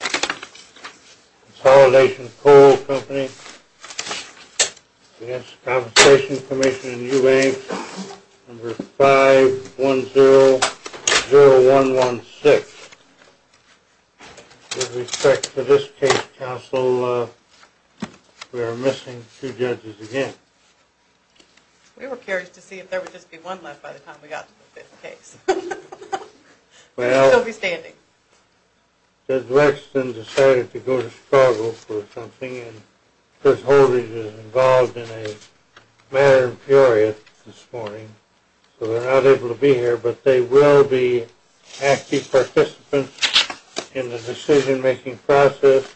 Consolidation Coal Company v. The Workers' Compensation Commission 5100116 With respect to this case, Counsel, we are missing two judges again. We were curious to see if there would just be one left by the time we got to the fifth case. Well, Judge Wexton decided to go to Chicago for something, and Chris Holdridge is involved in a matter of puriots this morning. So they're not able to be here, but they will be active participants in the decision-making process.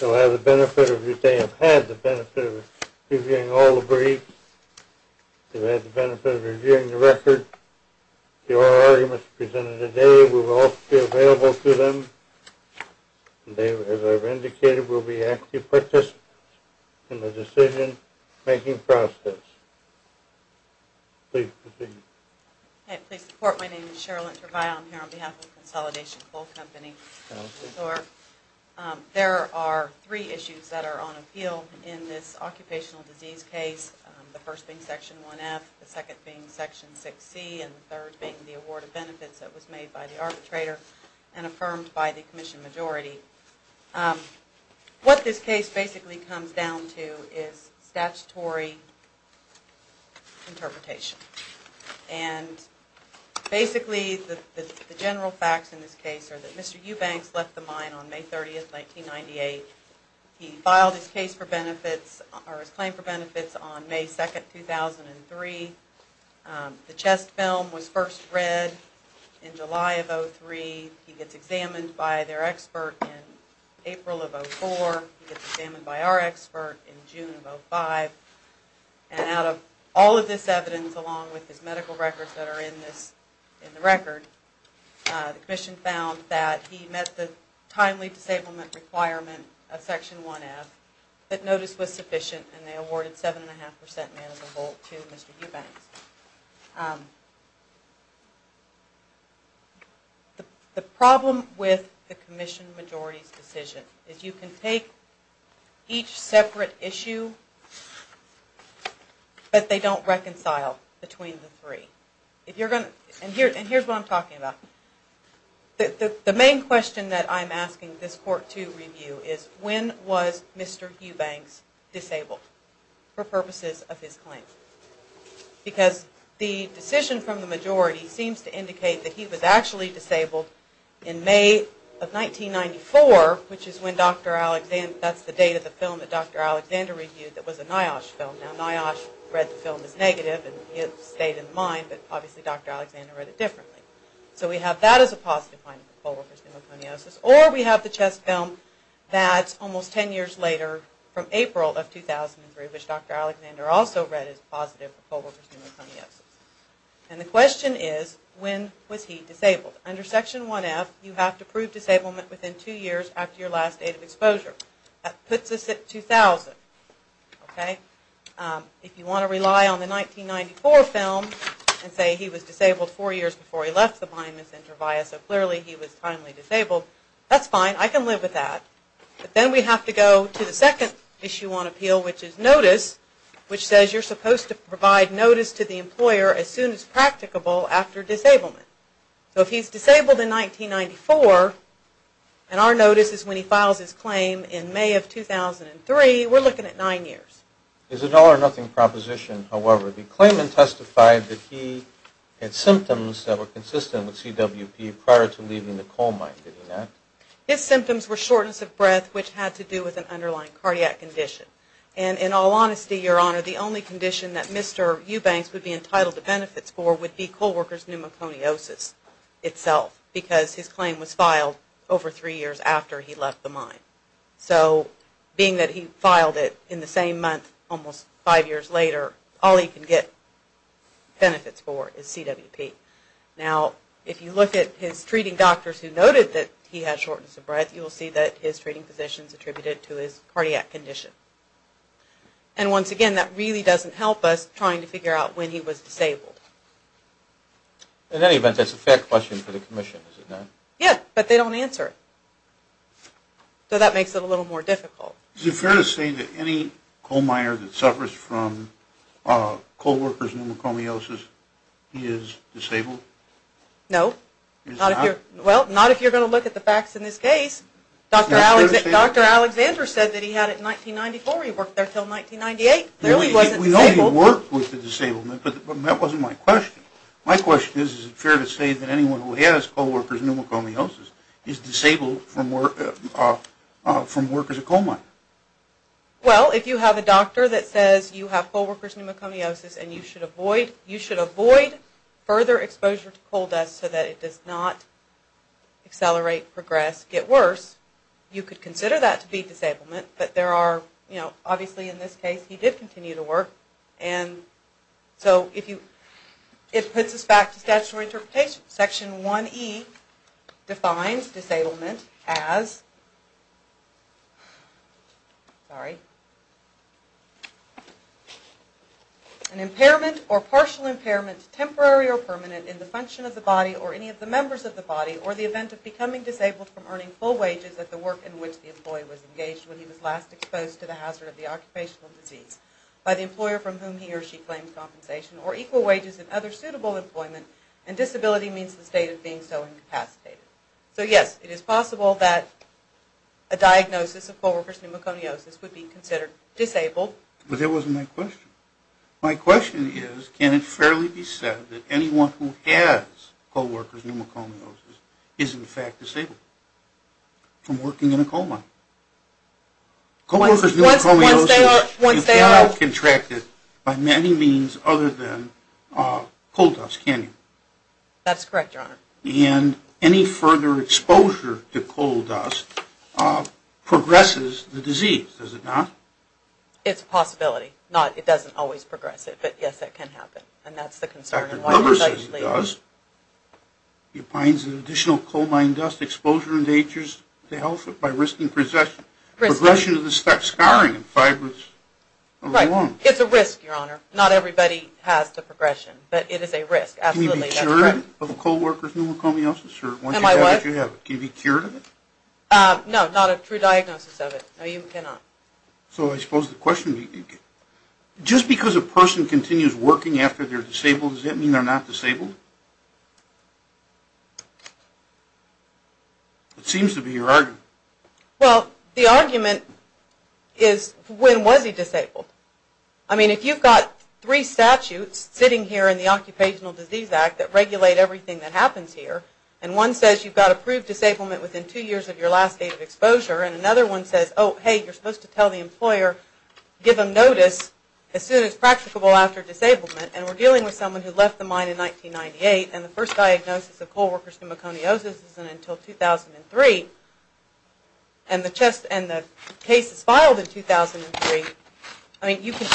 They'll have the benefit of, they have had the benefit of reviewing all the briefs. They've had the benefit of reviewing the record. The oral arguments presented today will also be available to them. And they, as I've indicated, will be active participants in the decision-making process. Please proceed. Hi, please support. My name is Cheryl Intervalle. I'm here on behalf of Consolidation Coal Company. There are three issues that are on appeal in this occupational disease case, the first being Section 1F, the second being Section 6C, and the third being the award of benefits that was made by the arbitrator and affirmed by the commission majority. What this case basically comes down to is statutory interpretation. And basically, the general facts in this case are that Mr. Eubanks left the mine on May 30, 1998. He filed his case for benefits or his claim for benefits on May 2, 2003. The chest film was first read in July of 2003. He gets examined by their expert in April of 2004. He gets examined by our expert in June of 2005. And out of all of this evidence, along with his medical records that are in this, in the record, the commission found that he met the timely disablement requirement of Section 1F, that notice was sufficient, and they awarded 7.5% manageable to Mr. Eubanks. The problem with the commission majority's decision is you can take each separate issue, but they don't reconcile between the three. And here's what I'm talking about. The main question that I'm asking this Court to review is, when was Mr. Eubanks disabled for purposes of his claim? Because the decision from the majority seems to indicate that he was actually disabled in May of 1994, which is when Dr. Alexander, that's the date of the film that Dr. Alexander reviewed that was a NIOSH film. Now NIOSH read the film as negative, and it stayed in the mind, but obviously Dr. Alexander read it differently. So we have that as a positive finding for Colbert's pneumoconiosis, or we have the chest film that's almost 10 years later from April of 2003, which Dr. Alexander also read as positive for Colbert's pneumoconiosis. And the question is, when was he disabled? Under Section 1F, you have to prove disablement within two years after your last date of exposure. That puts us at 2000. If you want to rely on the 1994 film and say he was disabled four years before he left the blindness center via, so clearly he was timely disabled, that's fine, I can live with that. But then we have to go to the second issue on appeal, which is notice, which says you're supposed to provide notice to the employer as soon as practicable after disablement. So if he's disabled in 1994, and our notice is when he files his claim in May of 2003, we're looking at nine years. Is it all or nothing proposition, however? The claimant testified that he had symptoms that were consistent with CWP prior to leaving the coal mine, did he not? His symptoms were shortness of breath, which had to do with an underlying cardiac condition. And in all honesty, Your Honor, the only condition that Mr. Eubanks would be entitled to benefits for would be coal workers pneumocloniosis itself, because his claim was filed over three years after he left the mine. So being that he filed it in the same month almost five years later, all he can get benefits for is CWP. Now, if you look at his treating doctors who noted that he had shortness of breath, you'll see that his treating physicians attributed to his cardiac condition. And once again, that really doesn't help us trying to figure out when he was disabled. In any event, that's a fair question for the Commission, is it not? Yeah, but they don't answer it. So that makes it a little more difficult. Is it fair to say that any coal miner that suffers from coal workers pneumocloniosis is disabled? No. Is it not? Well, not if you're going to look at the facts in this case. Dr. Alexander said that he had it in 1994. He worked there until 1998. Clearly he wasn't disabled. We know he worked with the disabled, but that wasn't my question. My question is, is it fair to say that anyone who has coal workers pneumocloniosis is disabled from work as a coal miner? Well, if you have a doctor that says you have coal workers pneumocloniosis and you should avoid further exposure to coal dust so that it does not accelerate, progress, get worse, you could consider that to be disablement. But there are, you know, obviously in this case he did continue to work. And so it puts us back to statutory interpretation. Section 1E defines disablement as an impairment or partial impairment, temporary or permanent, in the function of the body or any of the members of the body or the event of becoming disabled from earning full wages at the work in which the employee was engaged when he was last exposed to the hazard of the occupational disease by the employer from whom he or she claims compensation or equal wages in other suitable employment and disability means the state of being so incapacitated. So yes, it is possible that a diagnosis of coal workers pneumocloniosis would be considered disabled. But that wasn't my question. My question is, can it fairly be said that anyone who has coal workers pneumocloniosis is in fact disabled from working in a coal mine? Coal workers pneumocloniosis is not contracted by many means other than coal dust, can you? That's correct, Your Honor. And any further exposure to coal dust progresses the disease, does it not? It's a possibility. It doesn't always progress it, but yes, it can happen. And that's the concern. He finds that additional coal mine dust exposure endangers the health by risking progression of the stuff scarring in fibers of the lung. It's a risk, Your Honor. Not everybody has the progression, but it is a risk. Can you be cured of coal workers pneumocloniosis? Am I what? Can you be cured of it? No, not a true diagnosis of it. No, you cannot. So I suppose the question, just because a person continues working after they're disabled, does that mean they're not disabled? It seems to be your argument. Well, the argument is, when was he disabled? I mean, if you've got three statutes sitting here in the Occupational Disease Act that regulate everything that happens here, and one says you've got approved disablement within two years of your last date of exposure, and another one says, oh, hey, you're supposed to tell the employer, give them notice as soon as practicable after disablement, and we're dealing with someone who left the mine in 1998, and the first diagnosis of coal workers pneumocloniosis isn't until 2003, and the case is filed in 2003, I mean, you can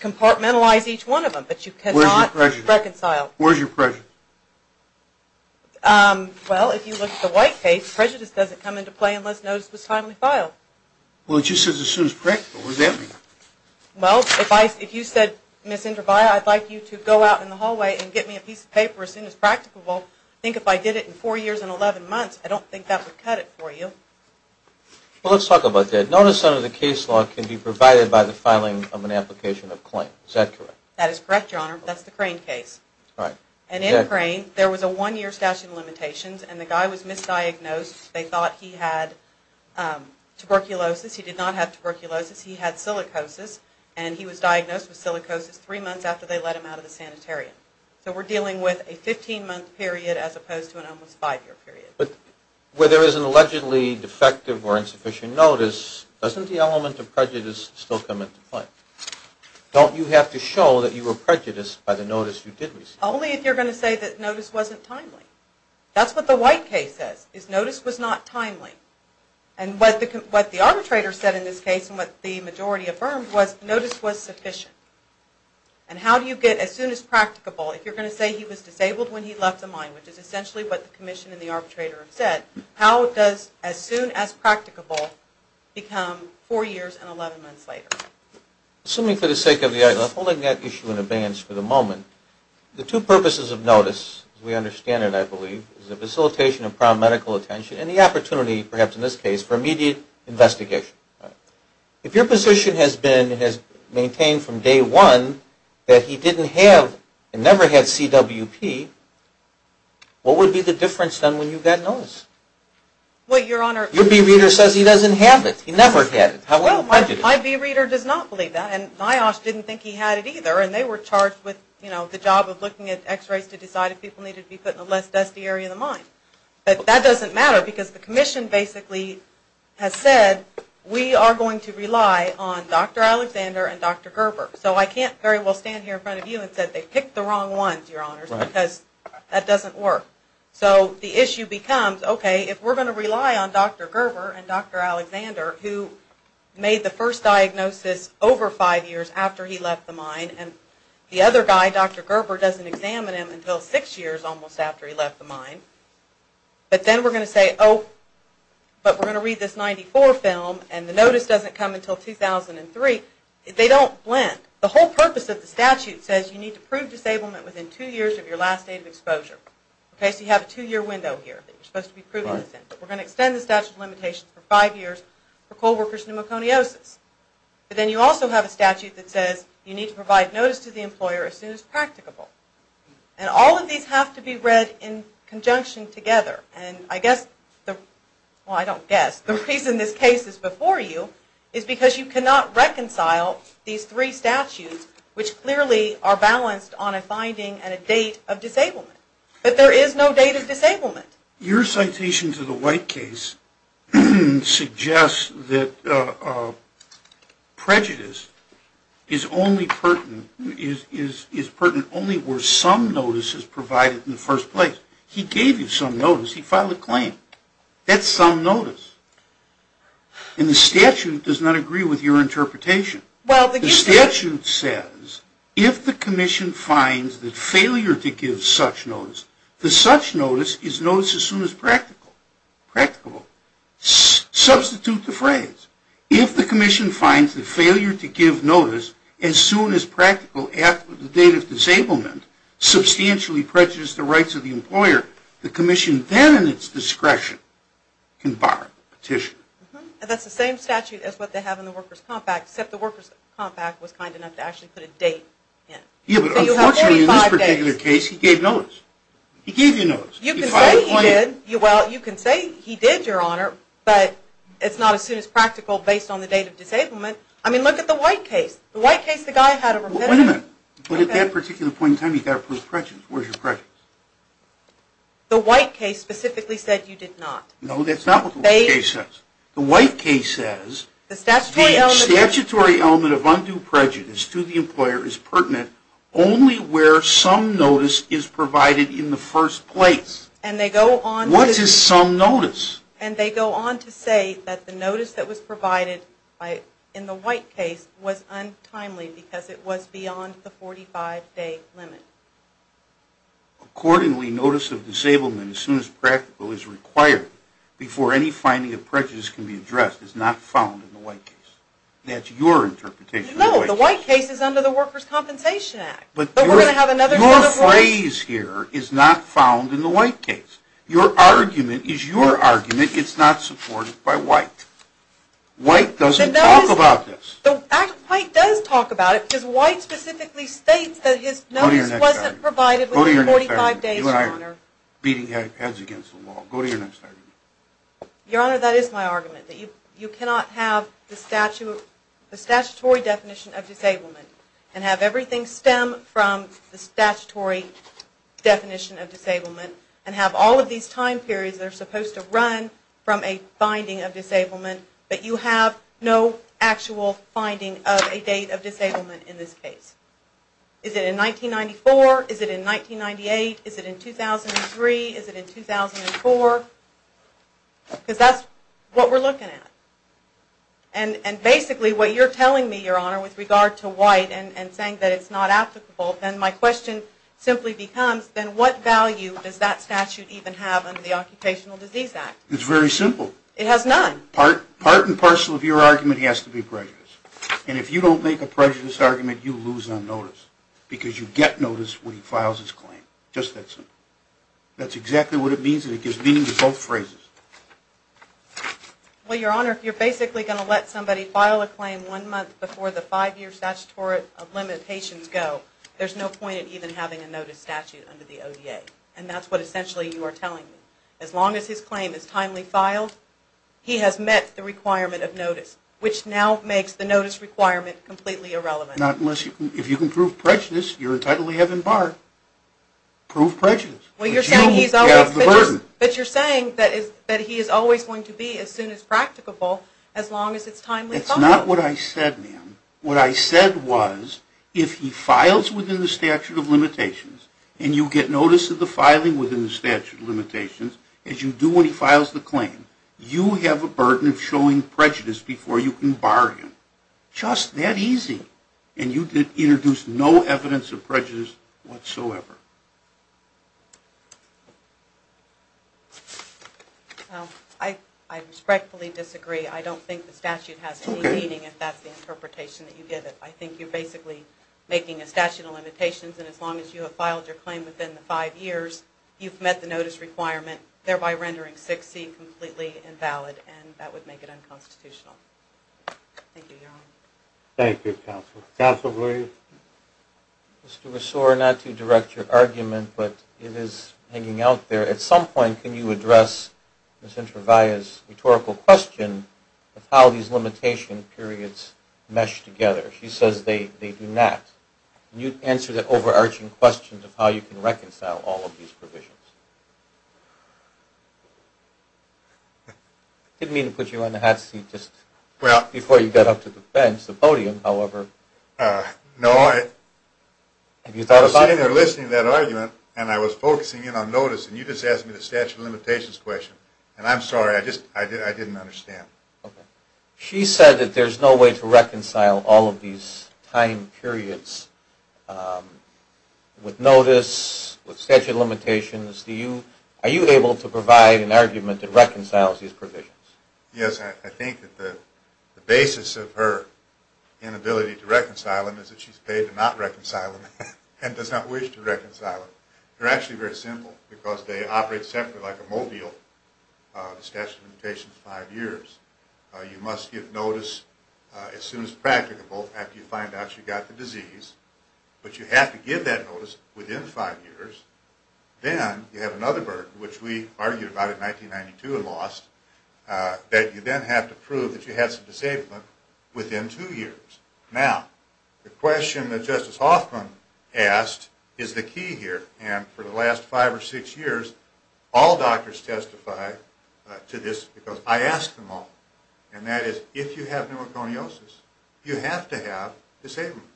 compartmentalize each one of them, but you cannot reconcile. Where's your prejudice? Where's your prejudice? Well, if you look at the White case, prejudice doesn't come into play unless notice was timely filed. Well, it just says as soon as practicable. What does that mean? Well, if you said, Ms. Indravaya, I'd like you to go out in the hallway and get me a piece of paper as soon as practicable, well, I think if I did it in four years and 11 months, I don't think that would cut it for you. Well, let's talk about that. Notice under the case law can be provided by the filing of an application of claim. Is that correct? That is correct, Your Honor. That's the Crane case. All right. And in Crane, there was a one-year statute of limitations, and the guy was misdiagnosed. They thought he had tuberculosis. He did not have tuberculosis. He had silicosis, and he was diagnosed with silicosis three months after they let him out of the sanitarium. So we're dealing with a 15-month period as opposed to an almost five-year period. But where there is an allegedly defective or insufficient notice, doesn't the element of prejudice still come into play? Don't you have to show that you were prejudiced by the notice you did receive? Only if you're going to say that notice wasn't timely. That's what the White case says, is notice was not timely. And what the arbitrator said in this case and what the majority affirmed was notice was sufficient. And how do you get as soon as practicable? If you're going to say he was disabled when he left the mine, which is essentially what the commission and the arbitrator have said, how does as soon as practicable become four years and 11 months later? Assuming for the sake of the argument, I'm holding that issue in abeyance for the moment. The two purposes of notice, as we understand it, I believe, is the facilitation of prime medical attention and the opportunity, perhaps in this case, for immediate investigation. If your position has been maintained from day one that he didn't have and never had CWP, what would be the difference then when you got notice? Well, Your Honor. Your bereader says he doesn't have it. He never had it. Well, my bereader does not believe that. And NIOSH didn't think he had it either. And they were charged with the job of looking at x-rays to decide if people needed to be put in a less dusty area of the mine. But that doesn't matter because the commission basically has said we are going to rely on Dr. Alexander and Dr. Gerber. So I can't very well stand here in front of you and say they picked the wrong ones, Your Honors, because that doesn't work. So the issue becomes, okay, if we're going to rely on Dr. Gerber and Dr. Alexander, who made the first diagnosis over five years after he left the mine, and the other guy, Dr. Gerber, doesn't examine him until six years almost after he left the mine, but then we're going to say, oh, but we're going to read this 94 film and the notice doesn't come until 2003, they don't blend. The whole purpose of the statute says you need to prove disablement within two years of your last date of exposure. Okay, so you have a two-year window here that you're supposed to be proving this in. We're going to extend the statute of limitations for five years for coal workers' pneumoconiosis. But then you also have a statute that says you need to provide notice to the employer as soon as practicable. And all of these have to be read in conjunction together. And I guess, well, I don't guess. The reason this case is before you is because you cannot reconcile these three statutes, which clearly are balanced on a finding and a date of disablement. But there is no date of disablement. Your citation to the White case suggests that prejudice is pertinent only where some notice is provided in the first place. He gave you some notice. He filed a claim. That's some notice. And the statute does not agree with your interpretation. The statute says if the commission finds that failure to give such notice, the such notice is notice as soon as practical, practicable. Substitute the phrase. If the commission finds that failure to give notice as soon as practical after the date of disablement substantially prejudices the rights of the employer, the commission then in its discretion can bar the petition. And that's the same statute as what they have in the Workers' Compact, except the Workers' Compact was kind enough to actually put a date in. Yeah, but unfortunately in this particular case he gave notice. He gave you notice. He filed a claim. You can say he did. Well, you can say he did, Your Honor, but it's not as soon as practical based on the date of disablement. I mean, look at the White case. The White case the guy had a repetitive. Well, wait a minute. But at that particular point in time he got a proof of prejudice. Where's your prejudice? The White case specifically said you did not. No, that's not what the White case says. The White case says the statutory element of undue prejudice to the employer is pertinent only where some notice is provided in the first place. What is some notice? And they go on to say that the notice that was provided in the White case was untimely because it was beyond the 45-day limit. Accordingly, notice of disablement as soon as practical is required before any finding of prejudice can be addressed is not found in the White case. That's your interpretation of the White case. No, the White case is under the Workers' Compensation Act. Your phrase here is not found in the White case. Your argument is your argument. It's not supported by White. White doesn't talk about this. White does talk about it because White specifically states that his notice wasn't provided within 45 days, Your Honor. Go to your next argument. You and I are beating heads against the wall. Go to your next argument. Your Honor, that is my argument. That you cannot have the statutory definition of disablement and have everything stem from the statutory definition of disablement and have all of these time periods that are supposed to run from a finding of disablement, but you have no actual finding of a date of disablement in this case. Is it in 1994? Is it in 1998? Is it in 2003? Is it in 2004? Because that's what we're looking at. And basically what you're telling me, Your Honor, with regard to White and saying that it's not applicable, then my question simply becomes, then what value does that statute even have under the Occupational Disease Act? It's very simple. It has none. Part and parcel of your argument has to be prejudiced. And if you don't make a prejudiced argument, you lose on notice because you get notice when he files his claim. Just that simple. That's exactly what it means and it gives meaning to both phrases. Well, Your Honor, if you're basically going to let somebody file a claim one month before the five-year statutory limitations go, there's no point in even having a notice statute under the ODA. And that's what essentially you are telling me. As long as his claim is timely filed, he has met the requirement of notice, which now makes the notice requirement completely irrelevant. Not unless you can prove prejudice. You're entitled to have him barred. Prove prejudice. But you have the burden. But you're saying that he is always going to be as soon as practicable as long as it's timely filed. That's not what I said, ma'am. What I said was if he files within the statute of limitations and you get notice of the filing within the statute of limitations, as you do when he files the claim, you have a burden of showing prejudice before you can bar him. Just that easy. And you did introduce no evidence of prejudice whatsoever. I respectfully disagree. I don't think the statute has any meaning if that's the interpretation that you give it. I think you're basically making a statute of limitations, and as long as you have filed your claim within the five years, you've met the notice requirement, thereby rendering 6C completely invalid, and that would make it unconstitutional. Thank you, Your Honor. Thank you, counsel. Counsel, please. Mr. Ressort, not to direct your argument, but it is hanging out there. At some point, can you address Ms. Introvalla's rhetorical question of how these limitation periods mesh together? She says they do not. Can you answer the overarching question of how you can reconcile all of these provisions? I didn't mean to put you on the hot seat just before you got up to the bench, the podium, however. No, I was sitting there listening to that argument, and I was focusing in on notice, and you just asked me the statute of limitations question. And I'm sorry, I just didn't understand. Okay. She said that there's no way to reconcile all of these time periods with notice, with statute of limitations. Are you able to provide an argument that reconciles these provisions? Yes. I think that the basis of her inability to reconcile them is that she's paid to not reconcile them and does not wish to reconcile them. They're actually very simple because they operate separately like a mobile. The statute of limitations is five years. You must give notice as soon as practicable after you find out you've got the disease, but you have to give that notice within five years. Then you have another burden, which we argued about in 1992 and lost, that you then have to prove that you have some disablement within two years. Now, the question that Justice Hoffman asked is the key here, and for the last five or six years all doctors testify to this because I ask them all, and that is if you have pneumoconiosis, you have to have disablement.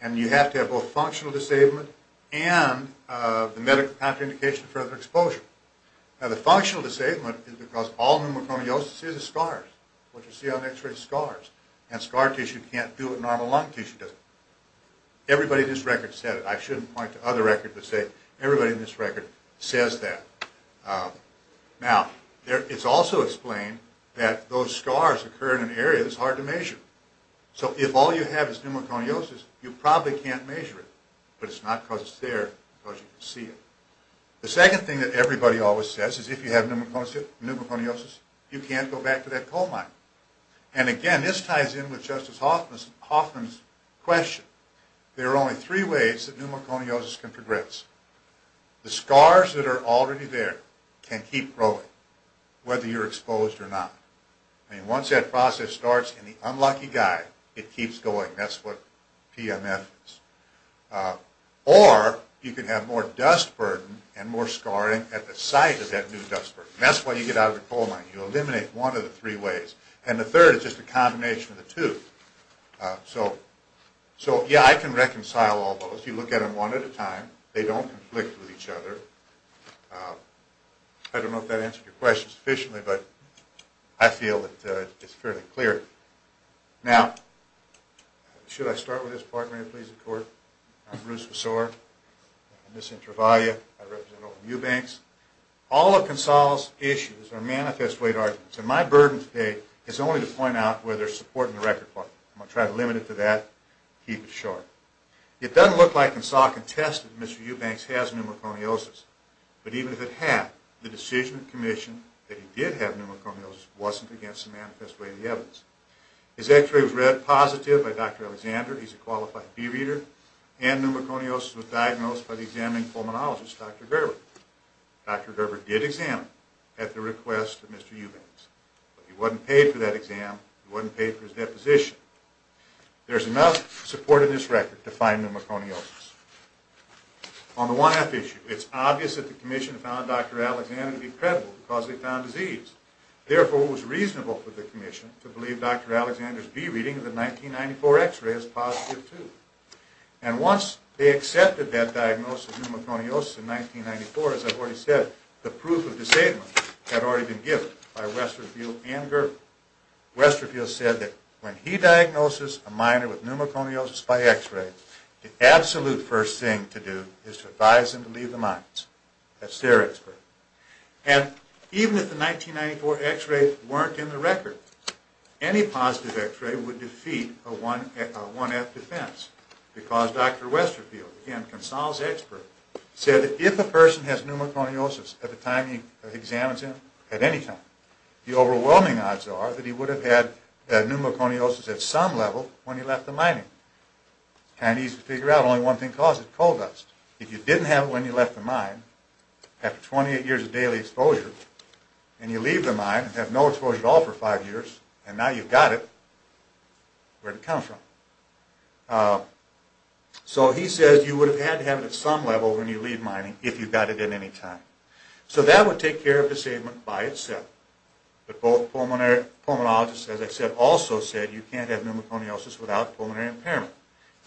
And you have to have both functional disablement and the medical contraindication of further exposure. Now, the functional disablement is because all pneumoconiosis is scars, what you see on x-ray is scars, and scar tissue can't do what normal lung tissue does. Everybody in this record said it. I shouldn't point to other records that say it. Everybody in this record says that. Now, it's also explained that those scars occur in an area that's hard to measure. So if all you have is pneumoconiosis, you probably can't measure it, but it's not because it's there, because you can see it. The second thing that everybody always says is if you have pneumoconiosis, you can't go back to that coal mine. And again, this ties in with Justice Hoffman's question. There are only three ways that pneumoconiosis can progress. The scars that are already there can keep growing, whether you're exposed or not. I mean, once that process starts in the unlucky guy, it keeps going. That's what PMF is. Or you can have more dust burden and more scarring at the site of that new dust burden. That's why you get out of the coal mine. You eliminate one of the three ways. And the third is just a combination of the two. So, yeah, I can reconcile all those. You look at them one at a time. They don't conflict with each other. I don't know if that answered your question sufficiently, but I feel that it's fairly clear. Now, should I start with this part? May it please the Court? I'm Bruce Vossor. I represent Travalia. I represent all of Eubanks. All of Consol's issues are manifest weight arguments, and my burden today is only to point out where there's support in the record part. I'm going to try to limit it to that, keep it short. It doesn't look like Consol contested that Mr. Eubanks has pneumoconiosis. But even if it had, the decision of commission that he did have pneumoconiosis wasn't against the manifest weight of the evidence. His x-ray was read positive by Dr. Alexander. He's a qualified bee reader. And pneumoconiosis was diagnosed by the examining pulmonologist, Dr. Gerber. Dr. Gerber did examine at the request of Mr. Eubanks. But he wasn't paid for that exam. He wasn't paid for his deposition. There's enough support in this record to find pneumoconiosis. On the 1F issue, it's obvious that the commission found Dr. Alexander to be credible because they found disease. Therefore, it was reasonable for the commission to believe Dr. Alexander's bee reading of the 1994 x-ray is positive too. And once they accepted that diagnosis of pneumoconiosis in 1994, as I've already said, the proof of disabling had already been given by Westerville and Gerber. Westerville said that when he diagnoses a minor with pneumoconiosis by x-ray, the absolute first thing to do is to advise him to leave the mines. That's their expert. And even if the 1994 x-ray weren't in the record, any positive x-ray would defeat a 1F defense because Dr. Westerville, again, Consal's expert, said that if a person has pneumoconiosis at the time he examines him, at any time, the overwhelming odds are that he would have had pneumoconiosis at some level when he left the mining. It's kind of easy to figure out. Only one thing caused it, coal dust. If you didn't have it when you left the mine, after 28 years of daily exposure, and you leave the mine and have no exposure at all for five years, and now you've got it, where'd it come from? So he says you would have had to have it at some level when you leave mining if you got it at any time. So that would take care of disablement by itself. But both pulmonary pulmonologists, as I said, also said you can't have pneumoconiosis without pulmonary impairment.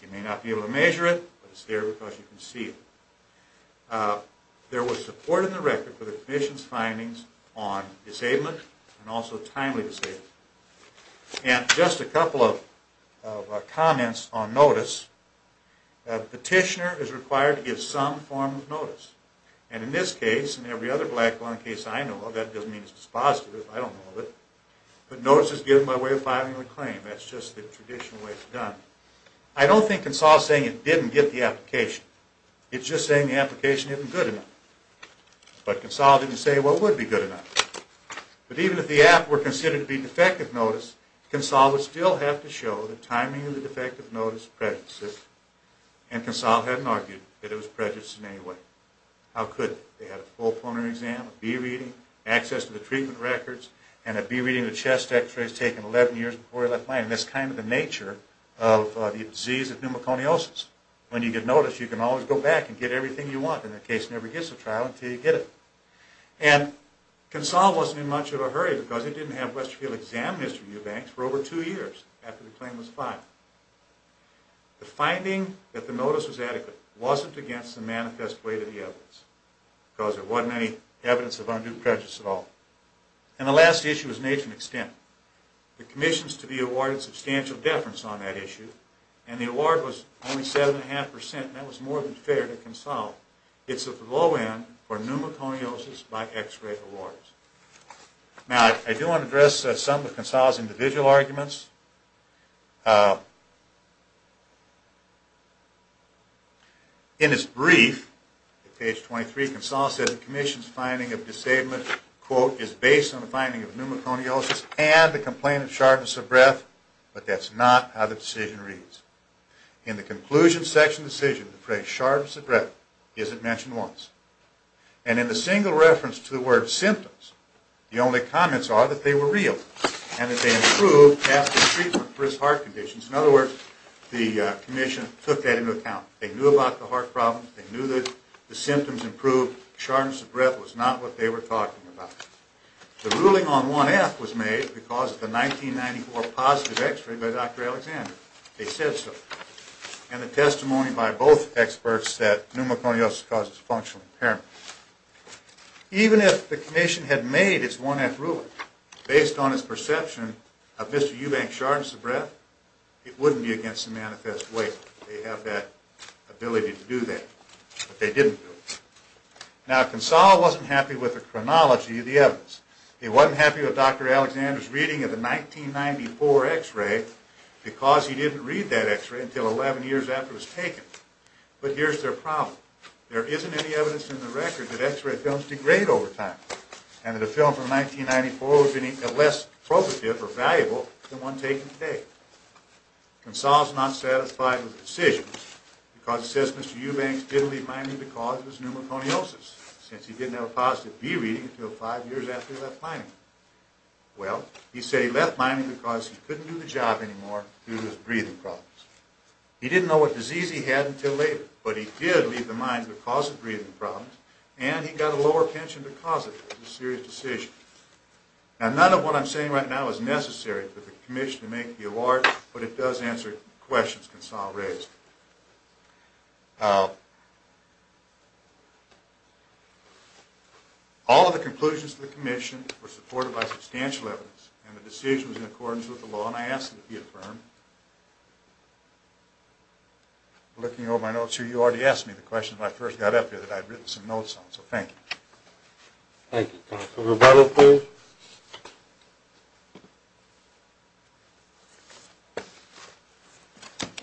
You may not be able to measure it, but it's there because you can see it. There was support in the record for the Commission's findings on disablement and also timely disablement. And just a couple of comments on notice. A petitioner is required to give some form of notice. And in this case, and every other black-bone case I know of, that doesn't mean it's dispositive. I don't know of it. But notice is given by way of filing a claim. That's just the traditional way it's done. I don't think Consal is saying it didn't get the application. It's just saying the application isn't good enough. But Consal didn't say what would be good enough. But even if the app were considered to be defective notice, Consal would still have to show the timing of the defective notice prejudices, and Consal hadn't argued that it was prejudiced in any way. How could they? They had a full pulmonary exam, a B-reading, access to the treatment records, and a B-reading of the chest x-rays taken 11 years before he left Miami. That's kind of the nature of the disease of pneumoconiosis. When you get notice, you can always go back and get everything you want, and the case never gets a trial until you get it. And Consal wasn't in much of a hurry because he didn't have Westfield examine Mr. Eubanks for over two years after the claim was filed. The finding that the notice was adequate wasn't against the manifest weight of the evidence because there wasn't any evidence of undue prejudice at all. And the last issue was nature and extent. The commissions to be awarded substantial deference on that issue, and the award was only 7.5%, and that was more than fair to Consal. It's at the low end for pneumoconiosis by x-ray awards. Now, I do want to address some of Consal's individual arguments. In his brief, at page 23, Consal said, the commission's finding of disablement, quote, is based on the finding of pneumoconiosis and the complaint of sharpness of breath, but that's not how the decision reads. In the conclusion section decision, the phrase sharpness of breath isn't mentioned once. And in the single reference to the word symptoms, the only comments are that they were real and that they improved capillary function. In other words, the commission took that into account. They knew about the heart problems. They knew that the symptoms improved. Sharpness of breath was not what they were talking about. The ruling on 1F was made because of the 1994 positive x-ray by Dr. Alexander. They said so. And the testimony by both experts said pneumoconiosis causes functional impairment. Even if the commission had made its 1F ruling based on its perception of Mr. Eubank's sharpness of breath, it wouldn't be against the manifest way. They have that ability to do that. But they didn't do it. Now, Consal wasn't happy with the chronology of the evidence. He wasn't happy with Dr. Alexander's reading of the 1994 x-ray because he didn't read that x-ray until 11 years after it was taken. But here's their problem. There isn't any evidence in the record that x-ray films degrade over time and that a film from 1994 would have been less probative or valuable than one taken today. Consal is not satisfied with the decision because it says Mr. Eubank didn't leave mining because of his pneumoconiosis since he didn't have a positive B reading until 5 years after he left mining. Well, he said he left mining because he couldn't do the job anymore due to his breathing problems. He didn't know what disease he had until later, but he did leave the mines because of breathing problems and he got a lower pension to cause it. It was a serious decision. Now, none of what I'm saying right now is necessary for the commission to make the award, but it does answer questions Consal raised. All of the conclusions of the commission were supported by substantial evidence and the decision was in accordance with the law and I asked that it be affirmed. Looking over my notes here, you already asked me the question when I first got up here that I'd written some notes on, so thank you. Thank you, Consal. Rebecca, please.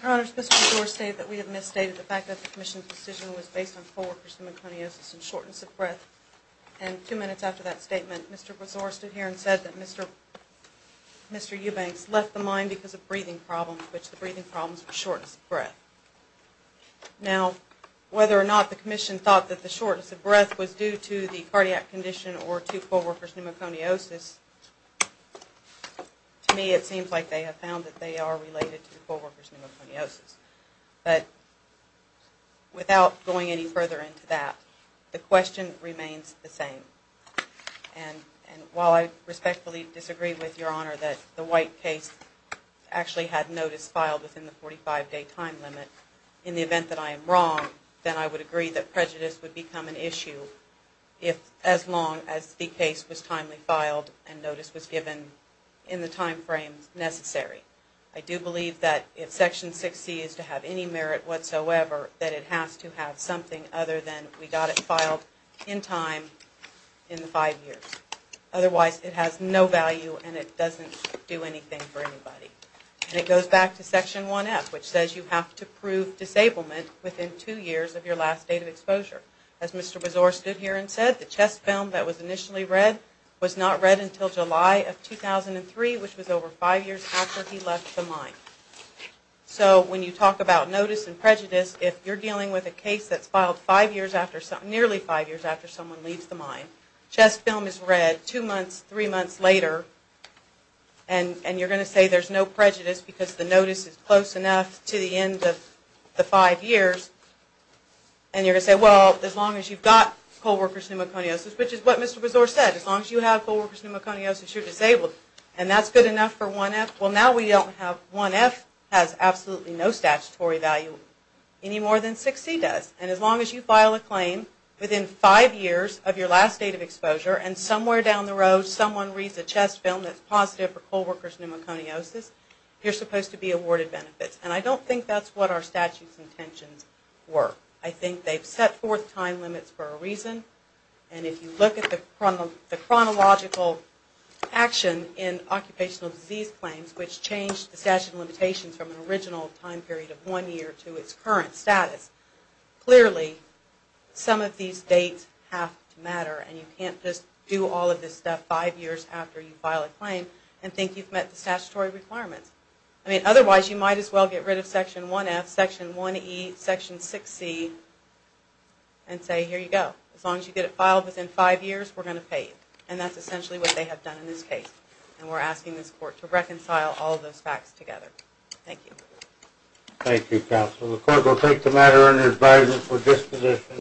Your Honor, Mr. Brezor stated that we had misstated the fact that the commission's decision was based on co-workers' pneumoconiosis and shortness of breath. And two minutes after that statement, Mr. Brezor stood here and said that Mr. Eubanks left the mine because of breathing problems, which the breathing problems were shortness of breath. Now, whether or not the commission thought that the shortness of breath was due to the cardiac condition or to co-workers' pneumoconiosis, to me it seems like they have found that they are related to co-workers' pneumoconiosis. But without going any further into that, the question remains the same. And while I respectfully disagree with Your Honor that the White case actually had notice filed within the 45-day time limit, in the event that I am wrong, then I would agree that prejudice would become an issue as long as the case was timely filed and notice was given in the time frame necessary. I do believe that if Section 6C is to have any merit whatsoever, that it has to have something other than we got it filed in time in the five years. Otherwise, it has no value and it doesn't do anything for anybody. And it goes back to Section 1F, which says you have to prove disablement within two years of your last date of exposure. As Mr. Bezor stood here and said, the chest film that was initially read was not read until July of 2003, which was over five years after he left the mine. So when you talk about notice and prejudice, if you're dealing with a case that's filed nearly five years after someone leaves the mine, chest film is read two months, three months later, and you're going to say there's no prejudice because the notice is close enough to the end of the five years, and you're going to say, well, as long as you've got co-workers' pneumoconiosis, which is what Mr. Bezor said, as long as you have co-workers' pneumoconiosis, you're disabled. And that's good enough for 1F? Well, now 1F has absolutely no statutory value any more than 6C does. And as long as you file a claim within five years of your last date of exposure and somewhere down the road someone reads a chest film that's positive for co-workers' pneumoconiosis, you're supposed to be awarded benefits. And I don't think that's what our statute's intentions were. I think they've set forth time limits for a reason, and if you look at the chronological action in occupational disease claims, which changed the statute of limitations from an original time period of one year to its current status, clearly some of these dates have to matter, and you can't just do all of this stuff five years after you file a claim and think you've met the statutory requirements. I mean, otherwise, you might as well get rid of Section 1F, Section 1E, Section 6C, and say, here you go. As long as you get it filed within five years, we're going to pay you. And that's essentially what they have done in this case. And we're asking this Court to reconcile all of those facts together. Thank you. Thank you, Counsel. The Court will take the matter under advisement for disposition.